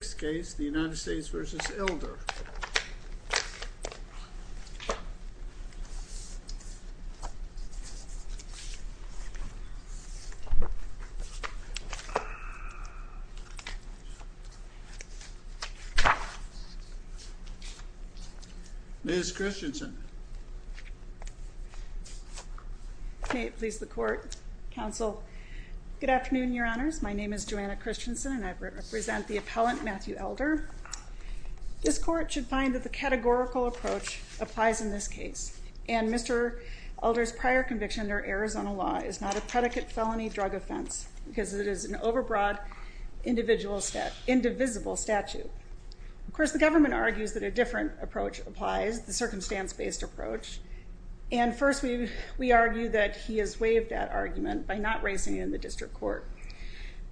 Next case, the United States v. Elder Ms. Christensen May it please the Court, Counsel Good afternoon, Your Honors. My name is Joanna Christensen, and I represent the appellant Matthew Elder. This Court should find that the categorical approach applies in this case. And Mr. Elder's prior conviction under Arizona law is not a predicate felony drug offense because it is an overbroad, indivisible statute. Of course, the government argues that a different approach applies, the circumstance-based approach. And first, we argue that he has waived that argument by not raising it in the district court.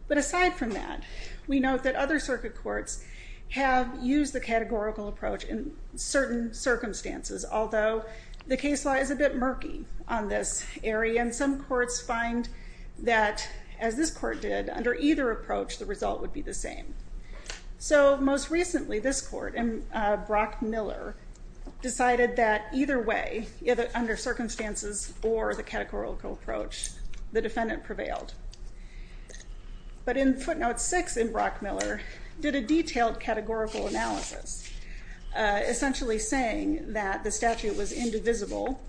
But aside from that, we note that other circuit courts have used the categorical approach in certain circumstances, although the case law is a bit murky on this area, and some courts find that, as this court did, under either approach, the result would be the same. So most recently, this court, Brock Miller, decided that either way, under circumstances or the categorical approach, the defendant prevailed. But in footnote 6 in Brock Miller, did a detailed categorical analysis, essentially saying that the statute was indivisible,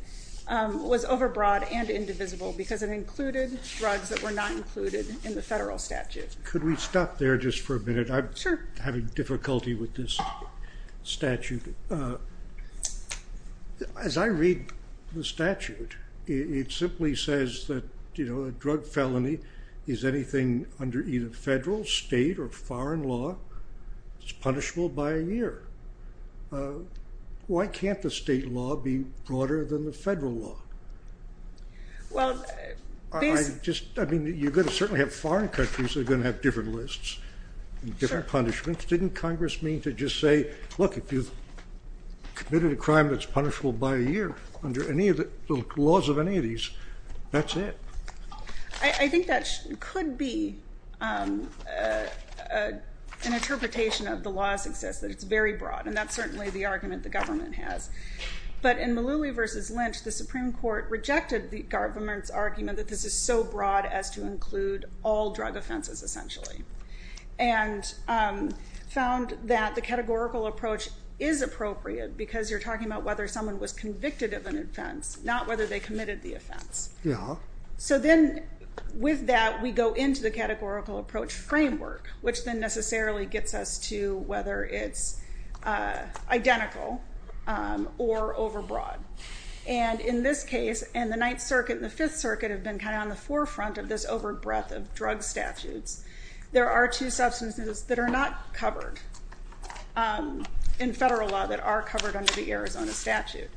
was overbroad and indivisible, because it included drugs that were not included in the federal statute. Could we stop there just for a minute? Sure. I'm having difficulty with this statute. As I read the statute, it simply says that, you know, a drug felony is anything under either federal, state, or foreign law. It's punishable by a year. Why can't the state law be broader than the federal law? Well, these... I mean, you're going to certainly have foreign countries that are going to have different lists and different punishments. Didn't Congress mean to just say, look, if you've committed a crime that's punishable by a year, under any of the laws of any of these, that's it? I think that could be an interpretation of the law's success, that it's very broad, and that's certainly the argument the government has. But in Mullooly v. Lynch, the Supreme Court rejected the government's argument that this is so broad as to include all drug offenses, essentially, and found that the categorical approach is appropriate, because you're talking about whether someone was convicted of an offense, not whether they committed the offense. Yeah. So then, with that, we go into the categorical approach framework, which then necessarily gets us to whether it's identical or overbroad. And in this case, and the Ninth Circuit and the Fifth Circuit have been kind of on the forefront of this overbreadth of drug statutes, there are two substances that are not covered in federal law that are covered under the Arizona statute.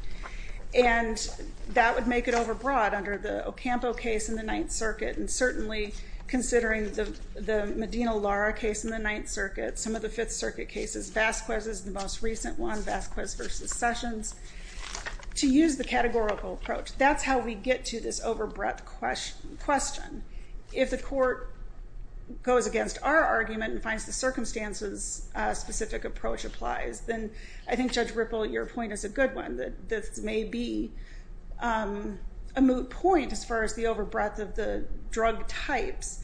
And that would make it overbroad under the Ocampo case in the Ninth Circuit, and certainly considering the Medina-Lara case in the Ninth Circuit, some of the Fifth Circuit cases, Vasquez is the most recent one, Vasquez v. Sessions. To use the categorical approach, that's how we get to this overbreadth question. If the court goes against our argument and finds the circumstances a specific approach applies, then I think, Judge Ripple, your point is a good one, and this may be a moot point as far as the overbreadth of the drug types,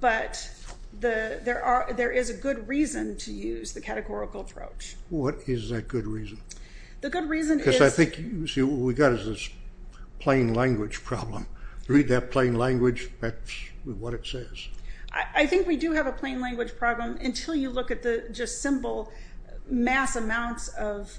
but there is a good reason to use the categorical approach. What is that good reason? The good reason is... Because I think, you see, what we've got is this plain language problem. Read that plain language, that's what it says. I think we do have a plain language problem until you look at the just simple mass amounts of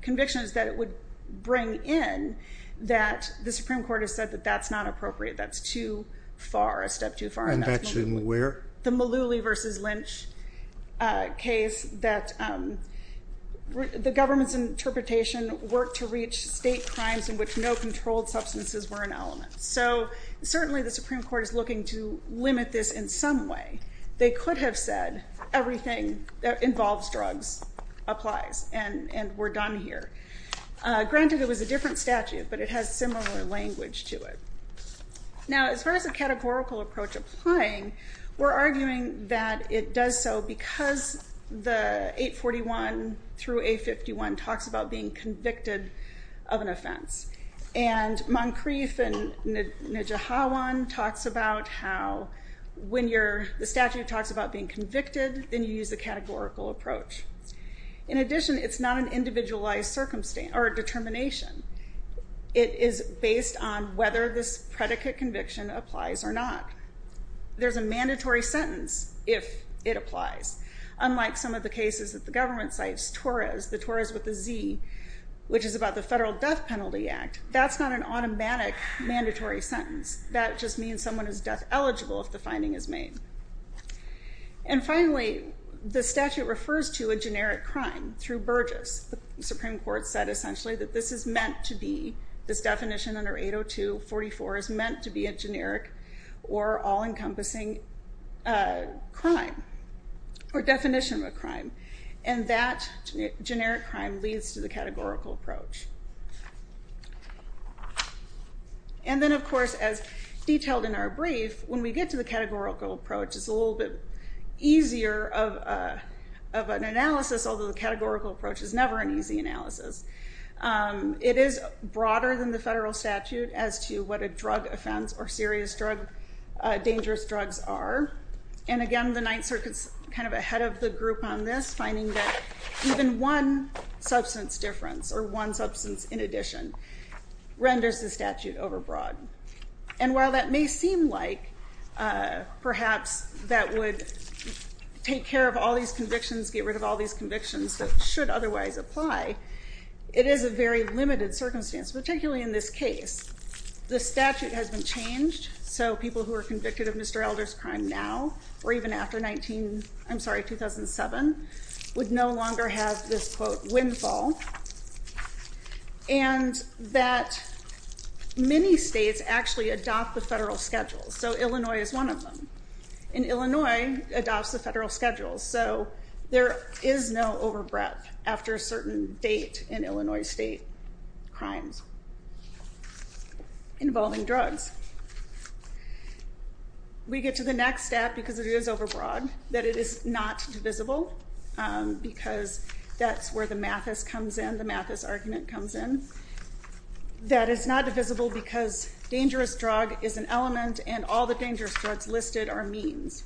convictions that it would bring in that the Supreme Court has said that that's not appropriate, that's too far, a step too far. And that's in where? The Mullooly v. Lynch case that the government's interpretation worked to reach state crimes in which no controlled substances were an element. So certainly the Supreme Court is looking to limit this in some way. They could have said everything that involves drugs applies and we're done here. Granted, it was a different statute, but it has similar language to it. Now, as far as the categorical approach applying, we're arguing that it does so because the 841 through 851 talks about being convicted of an offense. And Moncrief and Nidjahawan talks about how when the statute talks about being convicted, then you use the categorical approach. In addition, it's not an individualized determination. It is based on whether this predicate conviction applies or not. There's a mandatory sentence if it applies. Unlike some of the cases that the government cites, TORAS, the TORAS with a Z, which is about the Federal Death Penalty Act, that's not an automatic mandatory sentence. That just means someone is death eligible if the finding is made. And finally, the statute refers to a generic crime through Burgess. The Supreme Court said essentially that this is meant to be, this definition under 802.44 is meant to be a generic or all-encompassing crime or definition of a crime. And that generic crime leads to the categorical approach. And then, of course, as detailed in our brief, when we get to the categorical approach, it's a little bit easier of an analysis, although the categorical approach is never an easy analysis. It is broader than the federal statute as to what a drug offense or serious drug, dangerous drugs are. And again, the Ninth Circuit's kind of ahead of the group on this, finding that even one substance difference or one substance in addition renders the statute overbroad. And while that may seem like perhaps that would take care of all these convictions, get rid of all these convictions that should otherwise apply, it is a very limited circumstance, particularly in this case. The statute has been changed so people who are convicted of Mr. Elder's crime now or even after 2007 would no longer have this, quote, windfall. And that many states actually adopt the federal schedule. So Illinois is one of them. And Illinois adopts the federal schedule. So there is no overbreadth after a certain date in Illinois state crimes. Involving drugs. We get to the next step because it is overbroad, that it is not divisible because that's where the Mathis comes in, the Mathis argument comes in. That it's not divisible because dangerous drug is an element and all the dangerous drugs listed are means.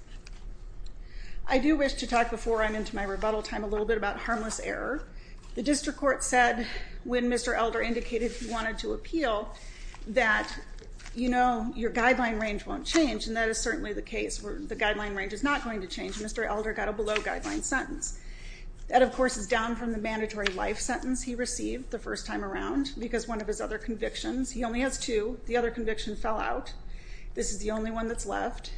I do wish to talk before I'm into my rebuttal time a little bit about harmless error. The District Court said when Mr. Elder indicated he wanted to appeal that, you know, your guideline range won't change, and that is certainly the case where the guideline range is not going to change. Mr. Elder got a below guideline sentence. That, of course, is down from the mandatory life sentence he received the first time around because one of his other convictions, he only has two, the other conviction fell out. This is the only one that's left.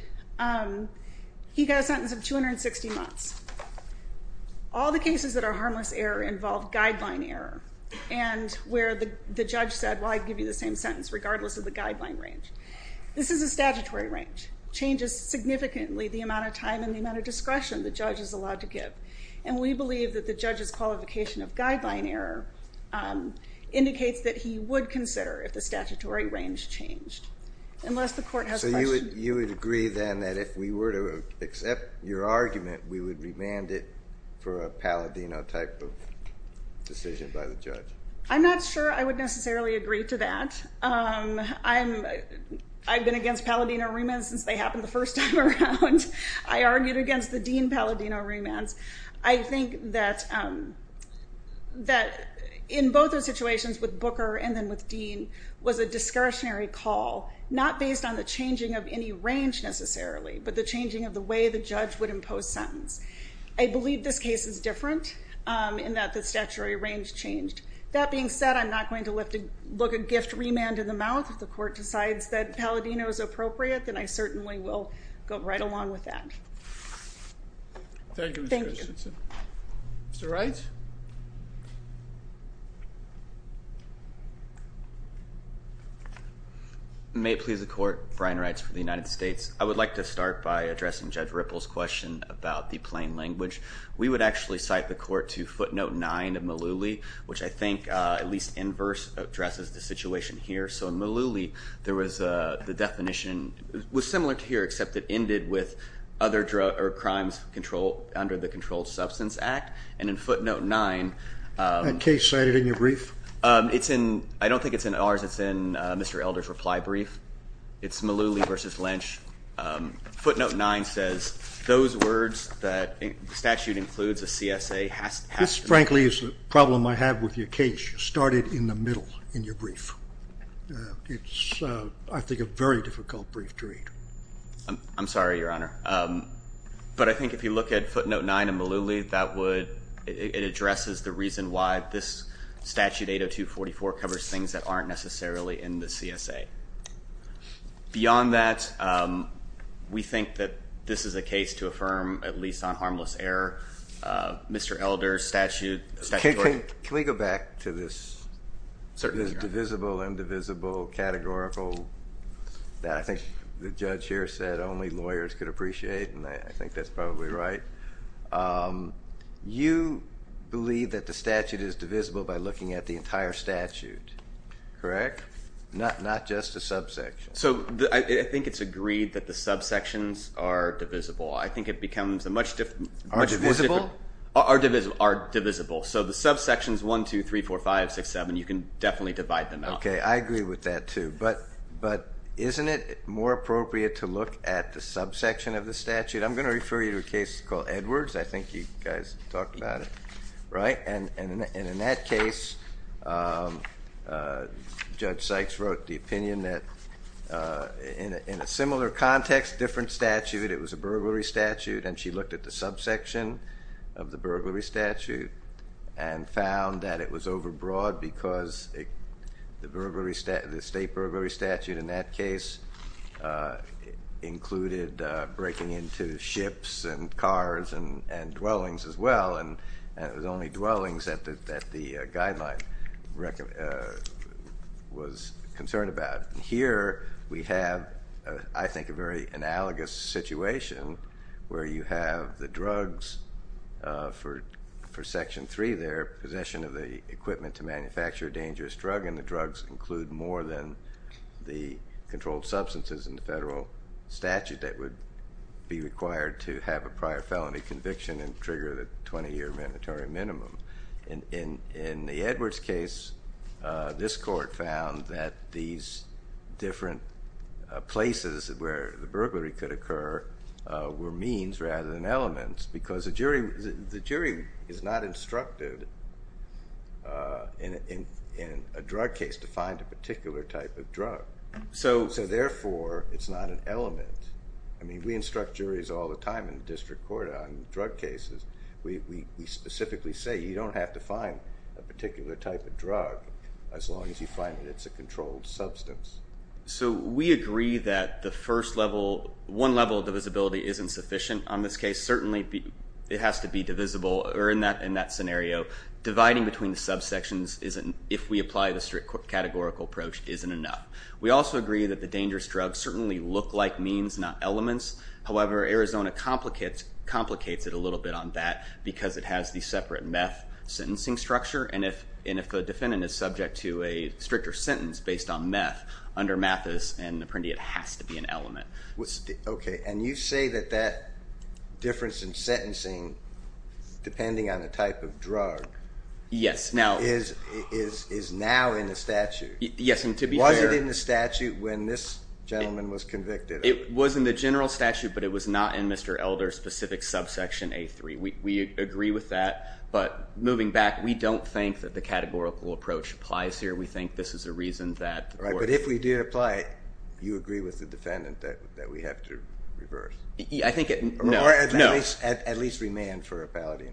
He got a sentence of 260 months. All the cases that are harmless error involve guideline error and where the judge said, well, I'd give you the same sentence regardless of the guideline range. This is a statutory range. Changes significantly the amount of time and the amount of discretion the judge is allowed to give. And we believe that the judge's qualification of guideline error indicates that he would consider if the statutory range changed. Unless the court has questions. Would you agree then that if we were to accept your argument, we would remand it for a Palladino type of decision by the judge? I'm not sure I would necessarily agree to that. I've been against Palladino remands since they happened the first time around. I argued against the Dean Palladino remands. I think that in both those situations, with Booker and then with Dean, was a discretionary call, not based on the changing of any range necessarily, but the changing of the way the judge would impose sentence. I believe this case is different in that the statutory range changed. That being said, I'm not going to look a gift remand in the mouth. If the court decides that Palladino is appropriate, then I certainly will go right along with that. Thank you, Ms. Christensen. Mr. Wright? May it please the court, Brian Wright for the United States. I would like to start by addressing Judge Ripple's question about the plain language. We would actually cite the court to footnote 9 of Malooly, which I think at least in verse addresses the situation here. So in Malooly, the definition was similar to here, except it ended with crimes under the Controlled Substance Act. And in footnote 9- That case cited in your brief? I don't think it's in ours. It's in Mr. Elder's reply brief. It's Malooly v. Lynch. Footnote 9 says those words that statute includes a CSA has to- This, frankly, is the problem I have with your case. You started in the middle in your brief. It's, I think, a very difficult brief to read. I'm sorry, Your Honor. But I think if you look at footnote 9 in Malooly, it addresses the reason why this statute, 80244, covers things that aren't necessarily in the CSA. Beyond that, we think that this is a case to affirm, at least on harmless error, Mr. Elder's statutory- Can we go back to this divisible, indivisible, categorical, that I think the judge here said only lawyers could appreciate, and I think that's probably right. You believe that the statute is divisible by looking at the entire statute, correct? Not just a subsection. So I think it's agreed that the subsections are divisible. I think it becomes a much different- Are divisible? Are divisible. So the subsections 1, 2, 3, 4, 5, 6, 7, you can definitely divide them out. Okay, I agree with that, too. But isn't it more appropriate to look at the subsection of the statute? I'm going to refer you to a case called Edwards. I think you guys talked about it, right? And in that case, Judge Sykes wrote the opinion that in a similar context, different statute, it was a burglary statute, and she looked at the subsection of the burglary statute and found that it was overbroad because the state burglary statute in that case included breaking into ships and cars and dwellings as well, and it was only dwellings that the guideline was concerned about. Here we have, I think, a very analogous situation where you have the drugs for Section 3 there, possession of the equipment to manufacture a dangerous drug, and the drugs include more than the controlled substances in the federal statute that would be required to have a prior felony conviction and trigger the 20-year mandatory minimum. In the Edwards case, this court found that these different places where the burglary could occur were means rather than elements because the jury is not instructed in a drug case to find a particular type of drug, so therefore it's not an element. I mean, we instruct juries all the time in the district court on drug cases. We specifically say you don't have to find a particular type of drug as long as you find that it's a controlled substance. So we agree that the first level, one level of divisibility isn't sufficient on this case, certainly it has to be divisible, or in that scenario, dividing between the subsections if we apply the district court categorical approach isn't enough. We also agree that the dangerous drugs certainly look like means, not elements. However, Arizona complicates it a little bit on that because it has the separate meth sentencing structure, and if the defendant is subject to a stricter sentence based on meth, under Mathis and Apprendi, it has to be an element. Okay, and you say that that difference in sentencing, depending on the type of drug, is now in the statute. Yes, and to be fair... Was it in the statute when this gentleman was convicted? It was in the general statute, but it was not in Mr. Elder's specific subsection A3. We agree with that, but moving back, we don't think that the categorical approach applies here. We think this is a reason that... But if we did apply it, do you agree with the defendant that we have to reverse? I think... No. Or at least remand for a Palladino.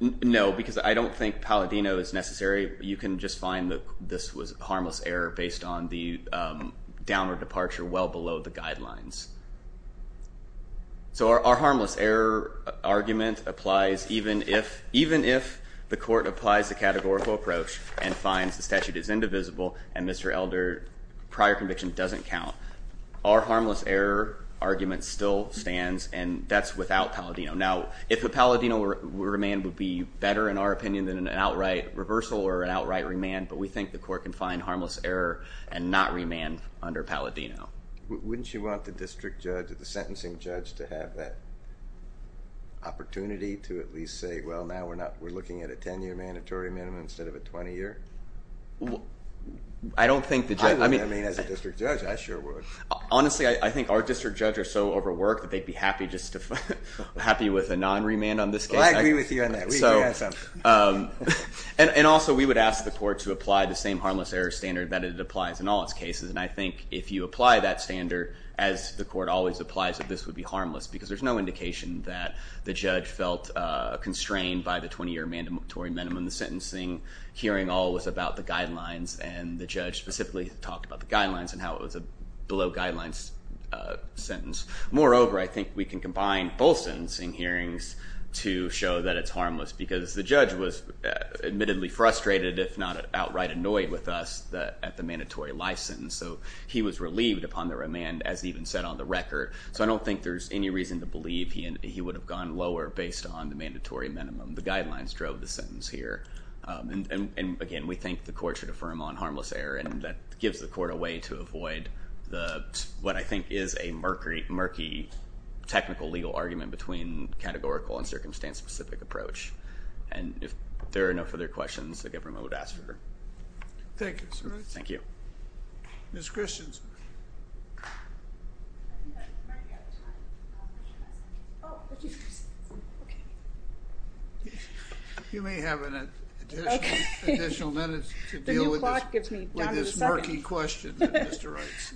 No, because I don't think Palladino is necessary. You can just find that this was harmless error based on the downward departure well below the guidelines. So our harmless error argument applies even if the court applies the categorical approach and finds the statute is indivisible and Mr. Elder's prior conviction doesn't count. Our harmless error argument still stands, and that's without Palladino. Now, if a Palladino remand would be better, in our opinion, than an outright reversal or an outright remand, but we think the court can find harmless error and not remand under Palladino. Wouldn't you want the district judge, the sentencing judge, to have that opportunity to at least say, well, now we're looking at a 10-year mandatory minimum instead of a 20-year? I don't think the judge... I wouldn't, I mean, as a district judge, I sure would. Honestly, I think our district judge are so overworked that they'd be happy just to... happy with a non-remand on this case. I agree with you on that. And also, we would ask the court to apply the same harmless error standard that it applies in all its cases, and I think if you apply that standard, as the court always applies it, this would be harmless, because there's no indication that the judge felt constrained by the 20-year mandatory minimum, and the sentencing hearing all was about the guidelines, and the judge specifically talked about the guidelines and how it was a below-guidelines sentence. Moreover, I think we can combine both sentencing hearings to show that it's harmless, because the judge was admittedly frustrated, if not outright annoyed with us at the mandatory license, so he was relieved upon the remand, as even said on the record. So I don't think there's any reason to believe he would have gone lower based on the mandatory minimum. The guidelines drove the sentence here. And again, we think the court should affirm on harmless error, and that gives the court a way to avoid what I think is a murky technical legal argument between categorical and circumstance-specific approach. And if there are no further questions, the government would ask for... Thank you, sir. Thank you. Ms. Christians. I think I heard you at the time. Oh, okay. Okay. You may have additional minutes to deal with this murky question.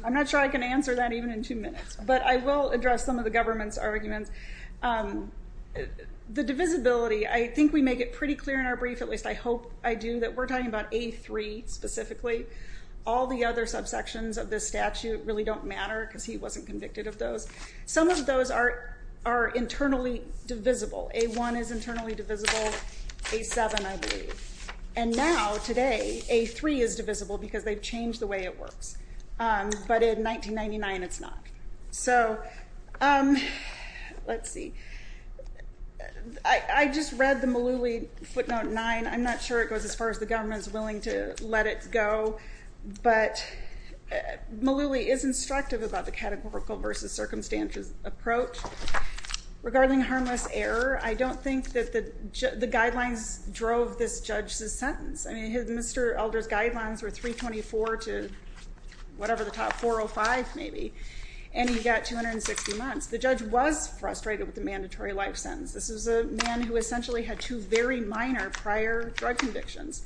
I'm not sure I can answer that even in two minutes, but I will address some of the government's arguments. The divisibility, I think we make it pretty clear in our brief, at least I hope I do, that we're talking about A3 specifically. All the other subsections of this statute really don't matter, because he wasn't convicted of those. Some of those are internally divisible. A1 is internally divisible. A7, I believe. And now, today, A3 is divisible, because they've changed the way it works. But in 1999, it's not. So... Let's see. I just read the Malooly footnote 9. I'm not sure it goes as far as the government's willing to let it go, but Malooly is instructive about the categorical versus circumstantial approach. Regarding harmless error, I don't think that the guidelines drove this judge's sentence. I mean, Mr. Elder's guidelines were 324 to whatever the top, 405 maybe. And he got 260 months. The judge was frustrated with the mandatory life sentence. This was a man who essentially had two very minor prior drug convictions.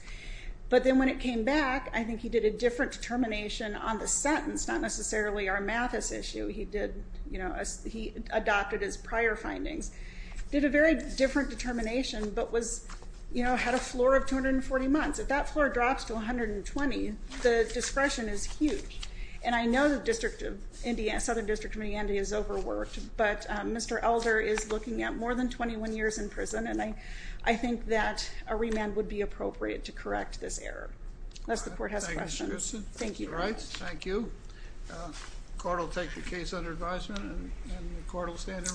But then when it came back, I think he did a different determination on the sentence, not necessarily our Mathis issue. He adopted his prior findings. Did a very different determination, but had a floor of 240 months. If that floor drops to 120, the discretion is huge. And I know the Southern District of Indiana is overworked, but Mr. Elder is looking at more than 21 years in prison, and I think that a remand would be appropriate to correct this error. Unless the court has questions. Thank you. The court will take the case under advisement, and the court will stand in recess.